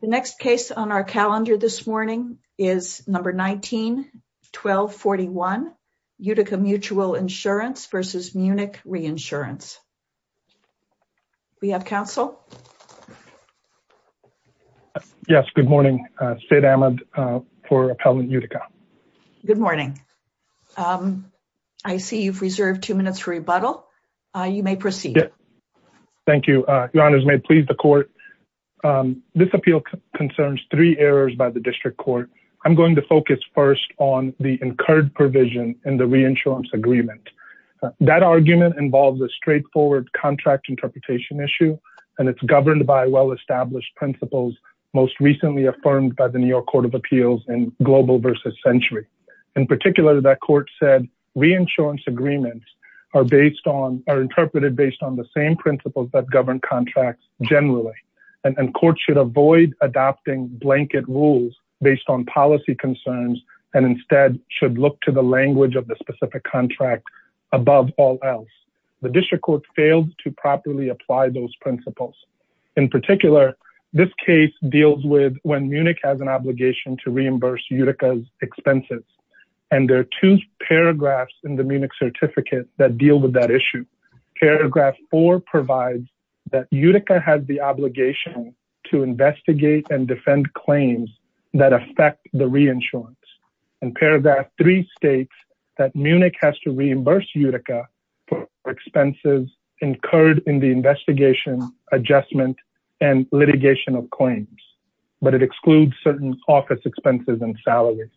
The next case on our calendar this morning is number 19-1241, Utica Mutual Insurance v. Munich Reinsurance. Do we have counsel? Yes, good morning. Sid Ahmed for Appellant Utica. Good morning. I see you've reserved two minutes for rebuttal. You may proceed. Thank you. Your honors, may it please the court. This appeal concerns three errors by the district court. I'm going to focus first on the incurred provision in the reinsurance agreement. That argument involves a straightforward contract interpretation issue, and it's governed by well-established principles most recently affirmed by the New York Court of Appeals in Global v. Century. In particular, that court said reinsurance agreements are interpreted based on the same principles that govern contracts generally, and courts should avoid adopting blanket rules based on policy concerns and instead should look to the language of the specific contract above all else. The district court failed to properly apply those principles. In particular, this case deals with when Munich has an obligation to reimburse Utica's expenses, and there are two paragraphs in the Munich Certificate that deal with that issue. Paragraph four provides that Utica has the obligation to investigate and defend claims that affect the reinsurance, and paragraph three states that Munich has to reimburse Utica for expenses incurred in the investigation, adjustment, and litigation of claims, but it excludes certain office expenses and salaries.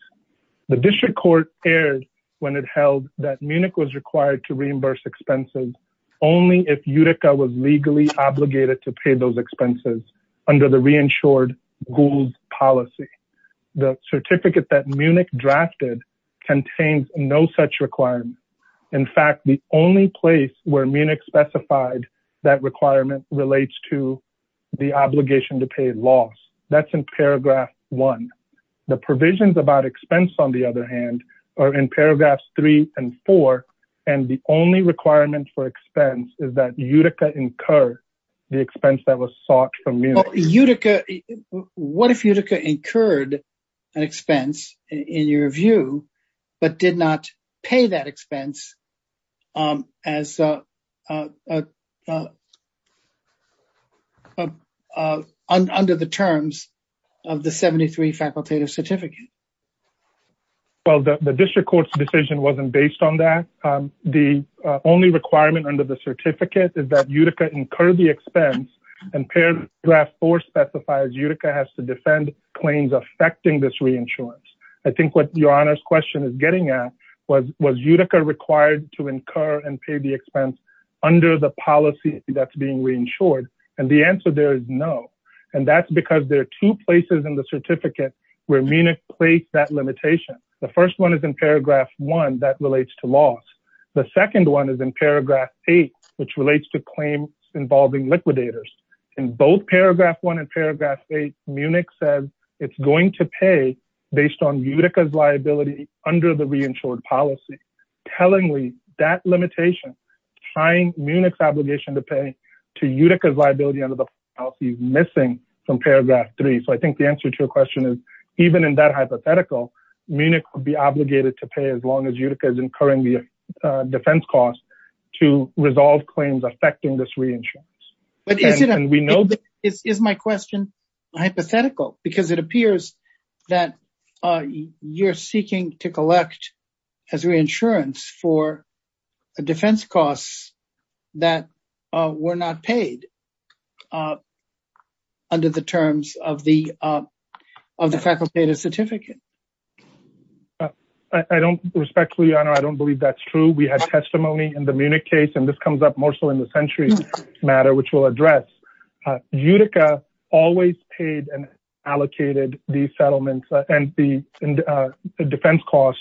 The district court erred when it held that Munich was required to reimburse expenses only if Utica was legally obligated to pay those expenses under the reinsured rules policy. The certificate that Munich drafted contains no such requirement. In fact, the only place where Munich specified that requirement relates to the obligation to pay loss. That's in paragraph one. The provisions about expense, on the other hand, are in paragraphs three and four, and the only requirement for expense is that Utica incur the expense that was sought from Munich. What if Utica incurred an expense in your view, but did not pay that expense under the terms of the 73 facultative certificate? Well, the district court's decision wasn't based on that. The only requirement under the certificate is that Utica incur the expense, and paragraph four specifies Utica has to defend claims affecting this reinsurance. I think what your honor's question is getting at was was Utica required to incur and pay the expense under the policy that's being reinsured, and the answer there is that's because there are two places in the certificate where Munich placed that limitation. The first one is in paragraph one that relates to loss. The second one is in paragraph eight, which relates to claims involving liquidators. In both paragraph one and paragraph eight, Munich says it's going to pay based on Utica's liability under the reinsured policy. Tellingly, that from paragraph three, so I think the answer to your question is even in that hypothetical, Munich would be obligated to pay as long as Utica is incurring the defense cost to resolve claims affecting this reinsurance. Is my question hypothetical? Because it appears that you're under the terms of the of the facultative certificate. I don't, respectfully, your honor, I don't believe that's true. We had testimony in the Munich case, and this comes up more so in the centuries matter, which we'll address. Utica always paid and allocated these settlements and the defense cost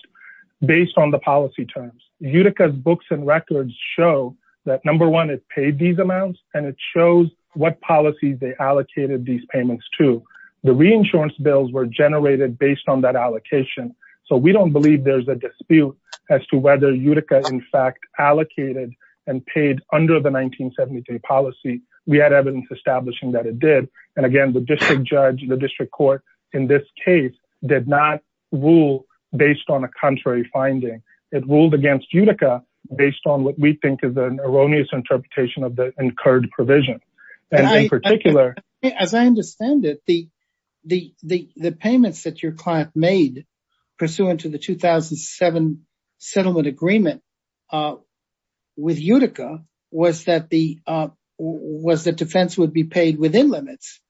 based on the policy terms. Utica's books and records show that number one, it paid these amounts, and it shows what policies they allocated these payments to. The reinsurance bills were generated based on that allocation, so we don't believe there's a dispute as to whether Utica, in fact, allocated and paid under the 1973 policy. We had evidence establishing that it did, and again, the district judge, the district court, in this case, did not rule based on a contrary finding. It ruled against Utica based on what we think is an erroneous interpretation of the incurred provision, and in particular... As I understand it, the payments that your client made pursuant to the 2007 settlement agreement with Utica was that the defense would be paid within limits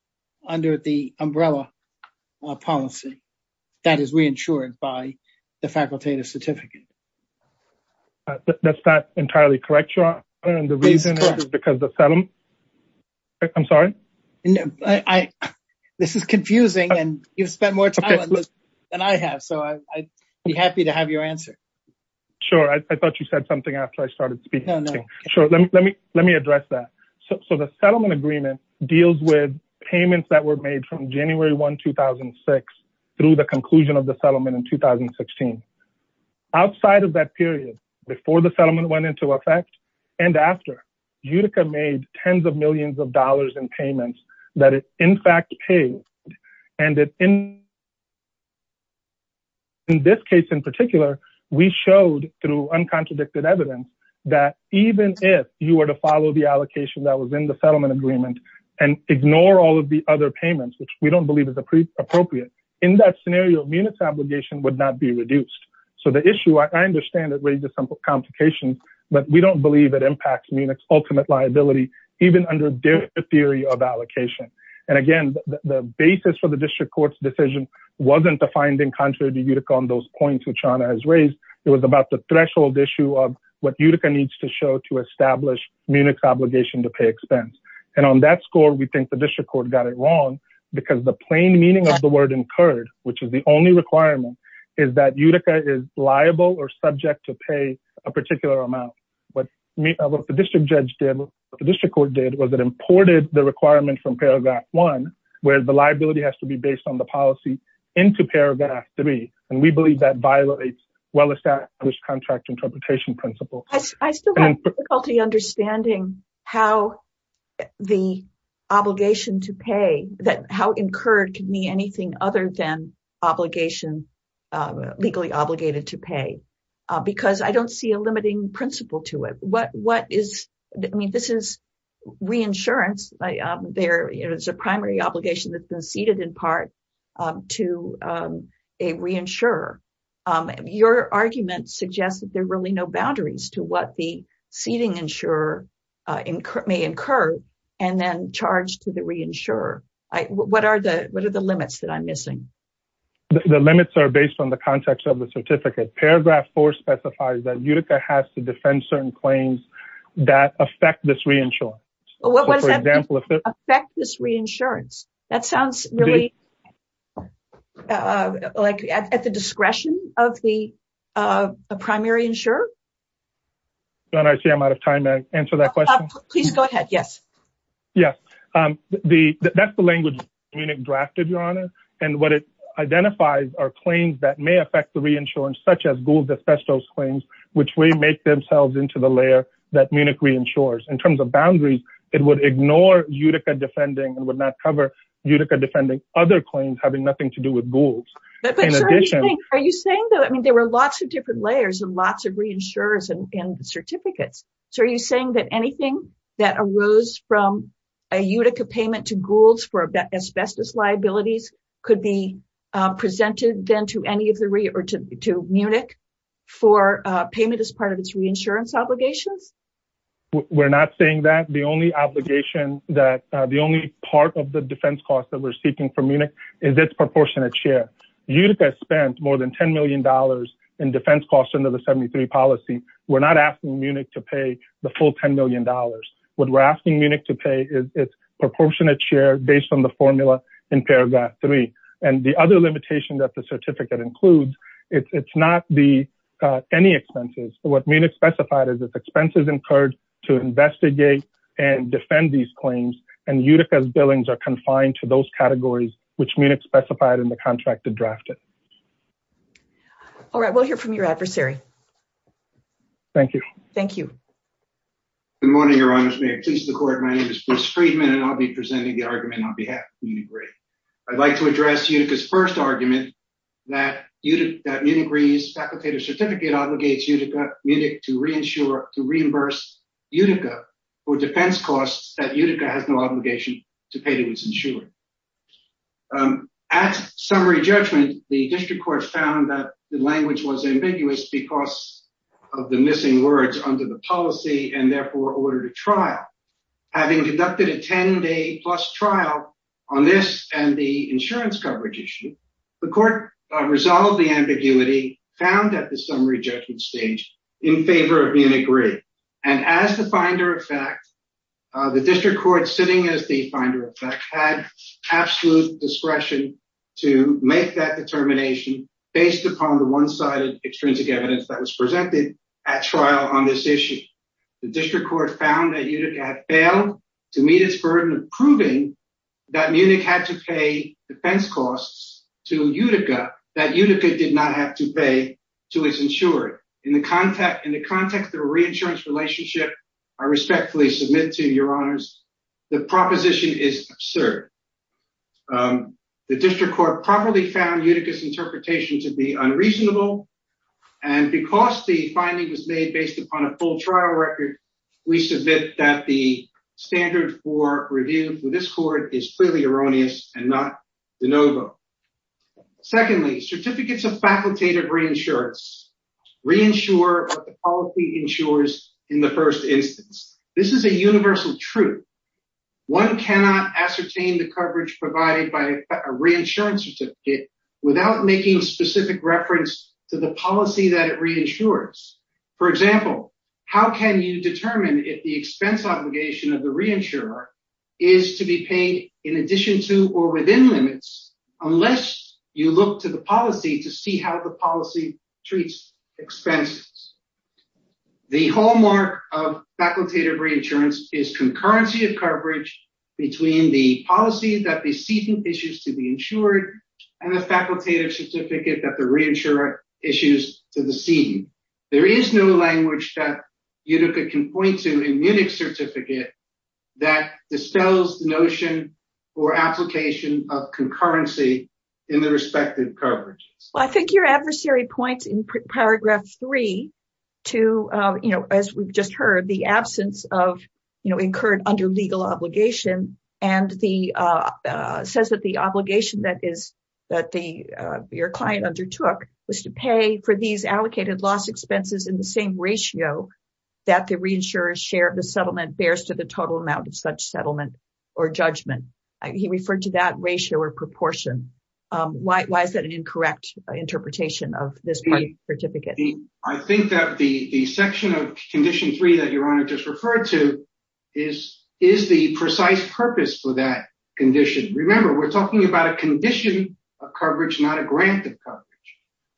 under the umbrella policy that is re-insured by the facultative certificate. That's not entirely correct, your honor, and the reason is because the settlement... I'm sorry? This is confusing, and you've spent more time on this than I have, so I'd be happy to have your answer. Sure, I thought you said something after I started speaking. No, no. Sure, let me address that. So the settlement agreement deals with payments that were made from January 1, 2006 through the conclusion of the settlement in 2016. Outside of that period, before the settlement went into effect and after, Utica made tens of millions of dollars in payments that it in fact paid, and in this case in particular, we showed through uncontradicted evidence that even if you were to follow the allocation that was in the settlement agreement and ignore all of the other in that scenario, Munich's obligation would not be reduced. So the issue, I understand, it raises some complications, but we don't believe it impacts Munich's ultimate liability even under the theory of allocation, and again, the basis for the district court's decision wasn't the finding contrary to Utica on those points which Chana has raised. It was about the threshold issue of what Utica needs to show to establish Munich's obligation to pay expense, and on that score, we think the district court got it wrong because the plain meaning of the which is the only requirement is that Utica is liable or subject to pay a particular amount. What the district judge did, what the district court did was it imported the requirement from paragraph one where the liability has to be based on the policy into paragraph three, and we believe that violates well-established contract interpretation principles. I still have difficulty understanding how the obligation to pay, how incurred can mean anything other than obligation, legally obligated to pay, because I don't see a limiting principle to it. What is, I mean, this is reinsurance. There is a primary obligation that's been ceded in part to a reinsurer. Your argument suggests that there are really no boundaries to what the The limits are based on the context of the certificate. Paragraph four specifies that Utica has to defend certain claims that affect this reinsurance. What does that mean, affect this reinsurance? That sounds really like at the discretion of the primary insurer. Don't I see I'm out of time to answer that question? Please go ahead, yes. Yes, that's the language Munich drafted, Your Honor, and what it identifies are claims that may affect the reinsurance, such as Gould's asbestos claims, which may make themselves into the layer that Munich reinsures. In terms of boundaries, it would ignore Utica defending and would not cover Utica defending other claims having nothing to do with Gould's. Are you saying that, I mean, there were lots of different layers and lots of reinsurers and a Utica payment to Gould's for asbestos liabilities could be presented then to any of the or to Munich for payment as part of its reinsurance obligations? We're not saying that. The only obligation, the only part of the defense cost that we're seeking from Munich is its proportionate share. Utica spent more than $10 million in defense costs under the 73 policy. We're not asking Munich to pay the full $10 million. What we're asking Munich to pay is its proportionate share based on the formula in paragraph three. And the other limitation that the certificate includes, it's not the any expenses. What Munich specified is its expenses incurred to investigate and defend these claims. And Utica's billings are confined to those categories, which Munich specified in the contract to draft it. All right, we'll hear from your adversary. Thank you. Thank you. Good morning, Your Honor's, please the court. My name is Bruce Friedman, and I'll be presenting the argument on behalf of Munich Re. I'd like to address Utica's first argument that Munich Re's facultative certificate obligates Munich to reimburse Utica for defense costs that Utica has no obligation to pay to its insurer. At summary judgment, the district court found that language was ambiguous because of the missing words under the policy and therefore ordered a trial. Having conducted a 10 day plus trial on this and the insurance coverage issue, the court resolved the ambiguity found at the summary judgment stage in favor of Munich Re. And as the finder of fact, the district court sitting as the finder of fact had absolute discretion to make that determination based upon the one-sided extrinsic evidence that was presented at trial on this issue. The district court found that Utica had failed to meet its burden of proving that Munich had to pay defense costs to Utica that Utica did not have to pay to its insurer. In the context of a reinsurance relationship, I respectfully submit to your district court properly found Utica's interpretation to be unreasonable and because the finding was made based upon a full trial record, we submit that the standard for review for this court is clearly erroneous and not de novo. Secondly, certificates of facultative reinsurance reinsure what the policy ensures in the first instance. This is a universal truth. One cannot ascertain the coverage provided by a reinsurance certificate without making a specific reference to the policy that it reinsures. For example, how can you determine if the expense obligation of the reinsurer is to be paid in addition to or within limits unless you look to the policy to see how the policy treats expenses. The hallmark of facultative reinsurance is concurrency of coverage between the policy that the seating issues to be insured and the facultative certificate that the reinsurer issues to the scene. There is no language that Utica can point to in Munich's certificate that dispels the notion or application of concurrency in the respective coverage. I think your adversary points in paragraph three to, you know, as we've just absence of, you know, incurred under legal obligation and says that the obligation that your client undertook was to pay for these allocated loss expenses in the same ratio that the reinsurer's share of the settlement bears to the total amount of such settlement or judgment. He referred to that ratio or proportion. Why is that an incorrect interpretation of this part of the certificate? I think that the section of condition three that your honor just referred to is the precise purpose for that condition. Remember, we're talking about a condition of coverage, not a grant of coverage.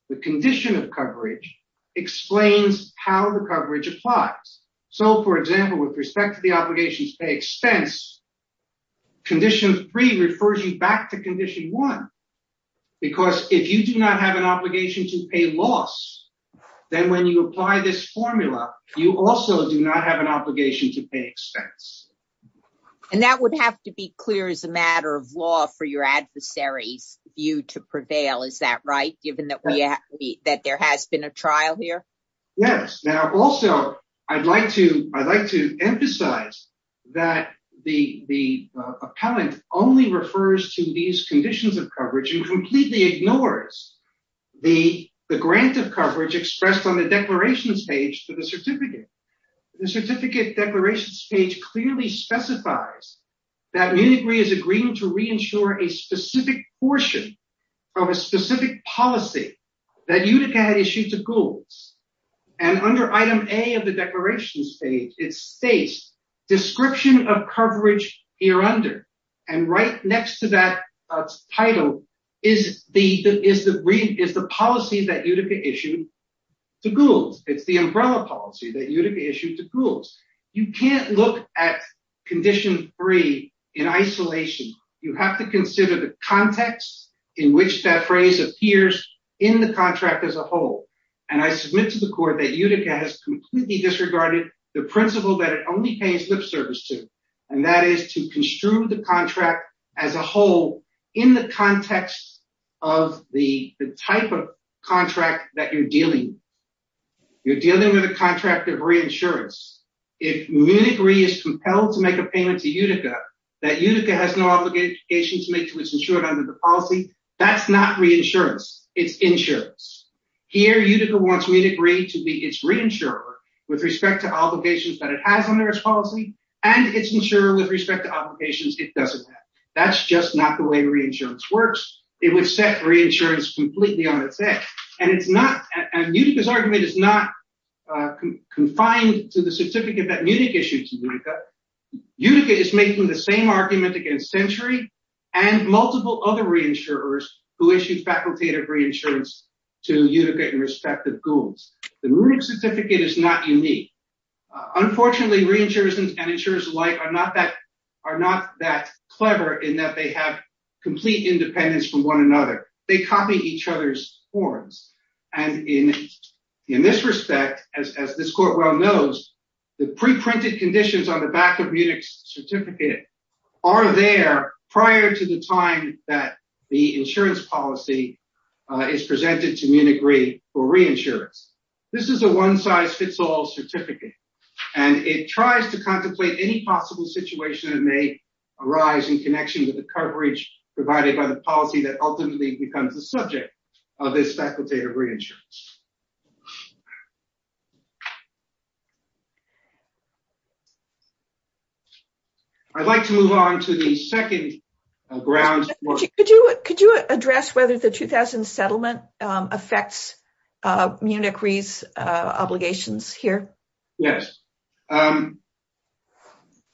The condition of coverage explains how the coverage applies. So, for example, with respect to the obligation to pay expense, condition three refers you back to condition one, because if you do not have an obligation to pay loss, then when you apply this formula, you also do not have an obligation to pay expense. And that would have to be clear as a matter of law for your adversary's view to prevail, is that right, given that there has been a trial here? Yes. Now, also, I'd like to emphasize that the appellant only refers to these conditions of coverage and completely ignores the grant of coverage expressed on the declaration page for the certificate. The certificate declaration page clearly specifies that Munich Re is agreeing to re-insure a specific portion of a specific policy that Utica had issued to Goulds. And under item A of the declaration page, it states description of coverage here under, and right next to that title is the policy that Utica issued to Goulds. It's the umbrella policy that Utica issued to Goulds. You can't look at condition three in isolation. You have to consider the context in which that phrase appears in the contract as a whole. And I submit to the court that Utica has completely disregarded the principle that it only pays lip service to, and that is to construe the contract as a whole in the context of the type of contract that you're dealing with, a contract of re-insurance. If Munich Re is compelled to make a payment to Utica that Utica has no obligation to make to its insurer under the policy, that's not re-insurance. It's insurance. Here, Utica wants Munich Re to be its reinsurer with respect to obligations that it has under its policy and its insurer with respect to obligations it doesn't have. That's just not the way re-insurance works. It would set re-insurance completely on its head. And Utica's not confined to the certificate that Munich issued to Utica. Utica is making the same argument against Century and multiple other re-insurers who issued facultative re-insurance to Utica in respect of Goulds. The Munich certificate is not unique. Unfortunately, re-insurers and insurers alike are not that clever in that they have complete independence from one another. They copy each other's forms. And in this respect, as this court well knows, the pre-printed conditions on the back of Munich's certificate are there prior to the time that the insurance policy is presented to Munich Re for re-insurance. This is a one-size-fits-all certificate. And it tries to contemplate any possible situation that may arise in connection with the coverage provided by the policy that ultimately becomes the subject of this facultative re-insurance. I'd like to move on to the second ground. Could you address whether the 2000 settlement affects Munich Re's obligations here? Yes.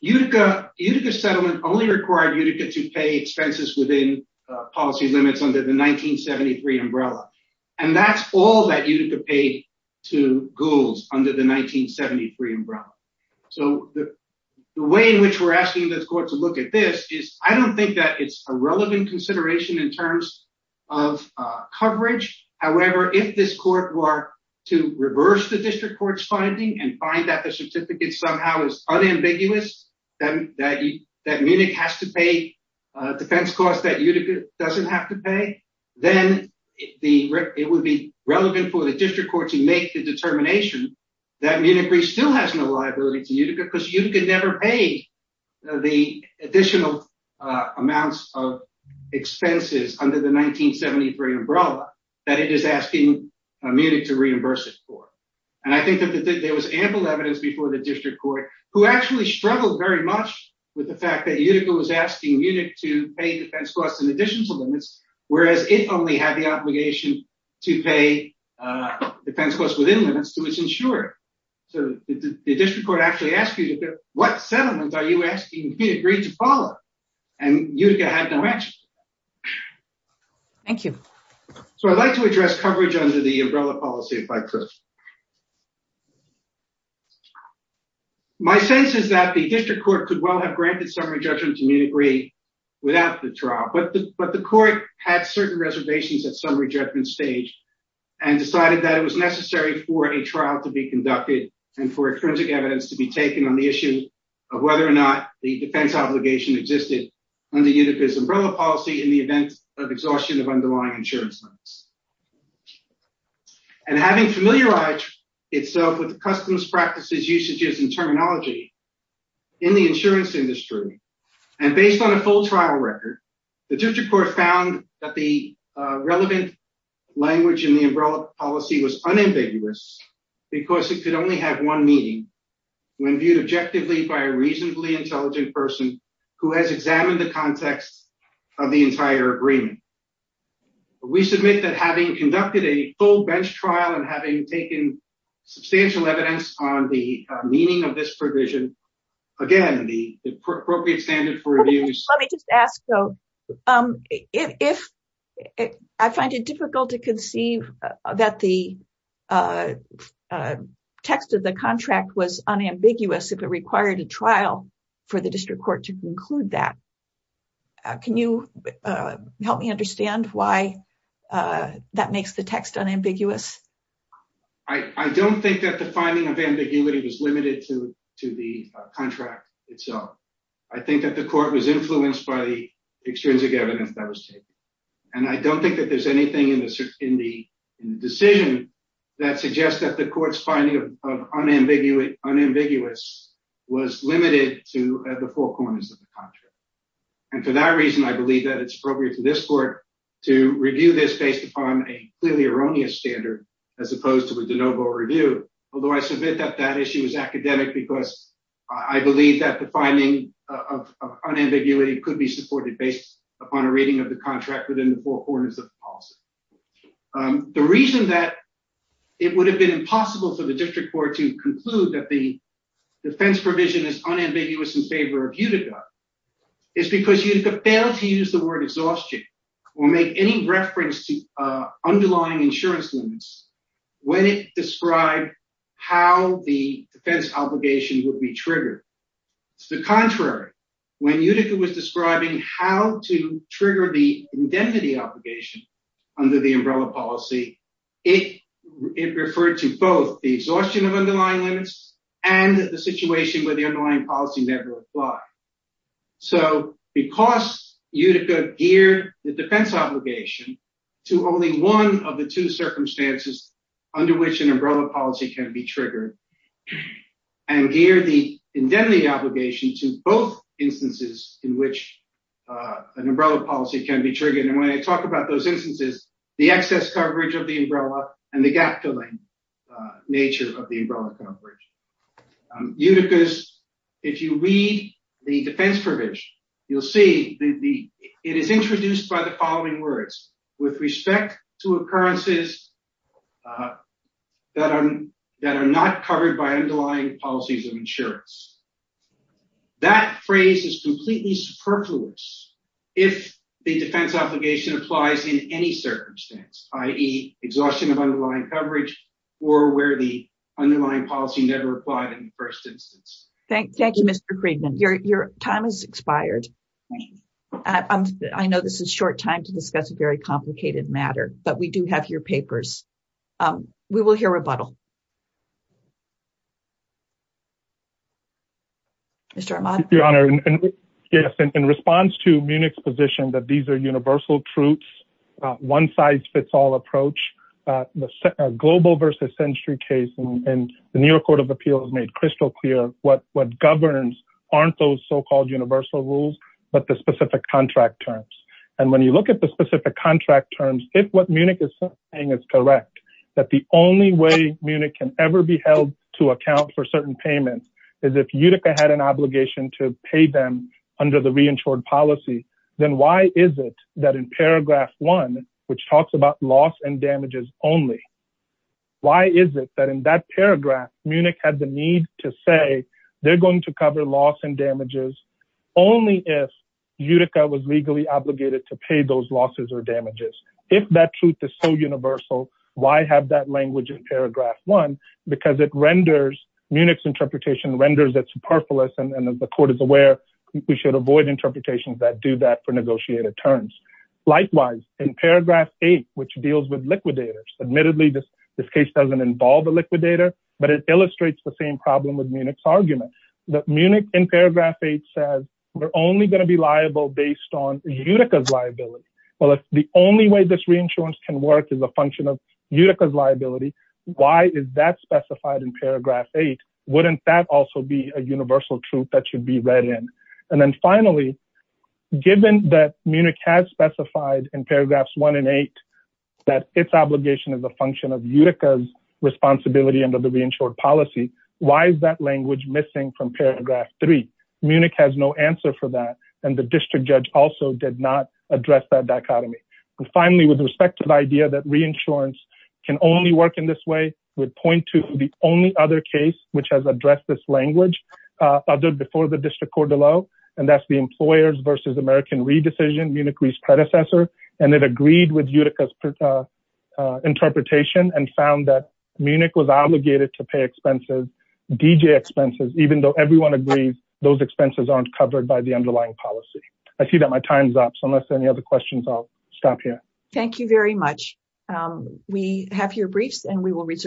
Utica's settlement only required to pay expenses within policy limits under the 1973 umbrella. And that's all that Utica paid to Goulds under the 1973 umbrella. So the way in which we're asking this court to look at this is, I don't think that it's a relevant consideration in terms of coverage. However, if this court were to reverse the district court's finding and find that the certificate somehow is unambiguous, that Munich has to pay defense costs that Utica doesn't have to pay, then it would be relevant for the district court to make the determination that Munich Re still has no liability to Utica because Utica never paid the additional amounts of expenses under the 1973 umbrella that it is asking Munich to reimburse it for. And I think that there was ample evidence before the district court who actually struggled very much with the fact that Utica was asking Munich to pay defense costs in addition to limits, whereas it only had the obligation to pay defense costs within limits to its insurer. So the district court actually asked Utica, what settlement are you asking Munich Re to follow? And Utica had no answer. Thank you. So I'd like to address coverage under the umbrella policy if I could. My sense is that the district court could well have granted summary judgment to Munich Re without the trial, but the court had certain reservations at summary judgment stage and decided that it was necessary for a trial to be conducted and for extrinsic evidence to be taken on the issue of whether or not the defense obligation existed under Utica's umbrella policy in the event of exhaustion of underlying insurance limits. And having familiarized itself with the customs practices, usages, and terminology in the insurance industry and based on a full trial record, the district court found that the relevant language in the umbrella policy was unambiguous because it could only have one meaning when viewed objectively by a reasonably intelligent person who has examined the context of the entire agreement. We submit that having conducted a full bench trial and having taken substantial evidence on the meaning of this provision, again, the appropriate standard for reviews. Let me just ask, though, if I find it difficult to conceive that the text of the contract was unambiguous if it required a trial for the district court to conclude that. Can you help me understand why that makes the text unambiguous? I don't think that the finding of ambiguity was limited to the contract itself. I think that the court was influenced by the extrinsic evidence that was taken. And I don't think that there's anything in the decision that suggests that the court's finding of unambiguous was limited to the four corners of the contract. And for that reason, I believe that it's appropriate for this court to review this based upon a clearly erroneous standard as opposed to a de novo review, although I submit that that issue is academic because I believe that the finding of unambiguity could be supported based upon a reading of the contract within the four corners of the policy. The reason that it would have been impossible for the district court to conclude that the defense provision is unambiguous in favor of Utica is because Utica failed to use the word exhaustion or make any reference to underlying insurance limits when it described how the trigger the indemnity obligation under the umbrella policy, it referred to both the exhaustion of underlying limits and the situation where the underlying policy never applied. So because Utica geared the defense obligation to only one of the two circumstances under which an umbrella policy can be triggered and geared the indemnity obligation to both instances in which an umbrella policy can be triggered. And when I talk about those instances, the excess coverage of the umbrella and the gap-filling nature of the umbrella coverage. Utica's, if you read the defense provision, you'll see that it is introduced by the following words with respect to occurrences that are not covered by underlying policies of insurance. That phrase is completely superfluous if the defense obligation applies in any circumstance, i.e. exhaustion of underlying coverage or where the underlying policy never applied in the first instance. Thank you, Mr. Friedman. Your time has expired. I know this is short time to discuss a very complicated matter, but we do have your papers. We will hear rebuttal. Mr. Armand? Your Honor, in response to Munich's position that these are universal truths, one-size-fits-all approach, the global versus century case in the New York Court of Appeals made crystal clear what governs aren't those so-called universal rules, but the specific contract terms. And when you look at the specific contract terms, if what Munich is saying is that the only way Munich can ever be held to account for certain payments is if Utica had an obligation to pay them under the reinsured policy, then why is it that in paragraph one, which talks about loss and damages only, why is it that in that paragraph Munich had the need to say they're going to cover loss and damages only if Utica was legally obligated to pay those losses or damages? If that truth is so universal, why have that language in paragraph one? Because it renders, Munich's interpretation renders it superfluous, and the court is aware we should avoid interpretations that do that for negotiated terms. Likewise, in paragraph eight, which deals with liquidators, admittedly, this case doesn't involve a liquidator, but it illustrates the same problem with Munich's argument, that Munich in paragraph eight says we're only going to be the only way this reinsurance can work is a function of Utica's liability. Why is that specified in paragraph eight? Wouldn't that also be a universal truth that should be read in? And then finally, given that Munich has specified in paragraphs one and eight, that its obligation is a function of Utica's responsibility under the reinsured policy, why is that language missing from paragraph three? Munich has no answer for that, and the district judge also did not address that dichotomy. And finally, with respect to the idea that reinsurance can only work in this way, would point to the only other case which has addressed this language before the district court below, and that's the employers versus American re-decision, Munich's predecessor, and it agreed with Utica's interpretation and found that Munich was obligated to pay expenses, DJ expenses, even though everyone agrees those expenses aren't covered by the policy. I see that my time's up, so unless there are any other questions, I'll stop here. Thank you very much. We have here briefs, and we will reserve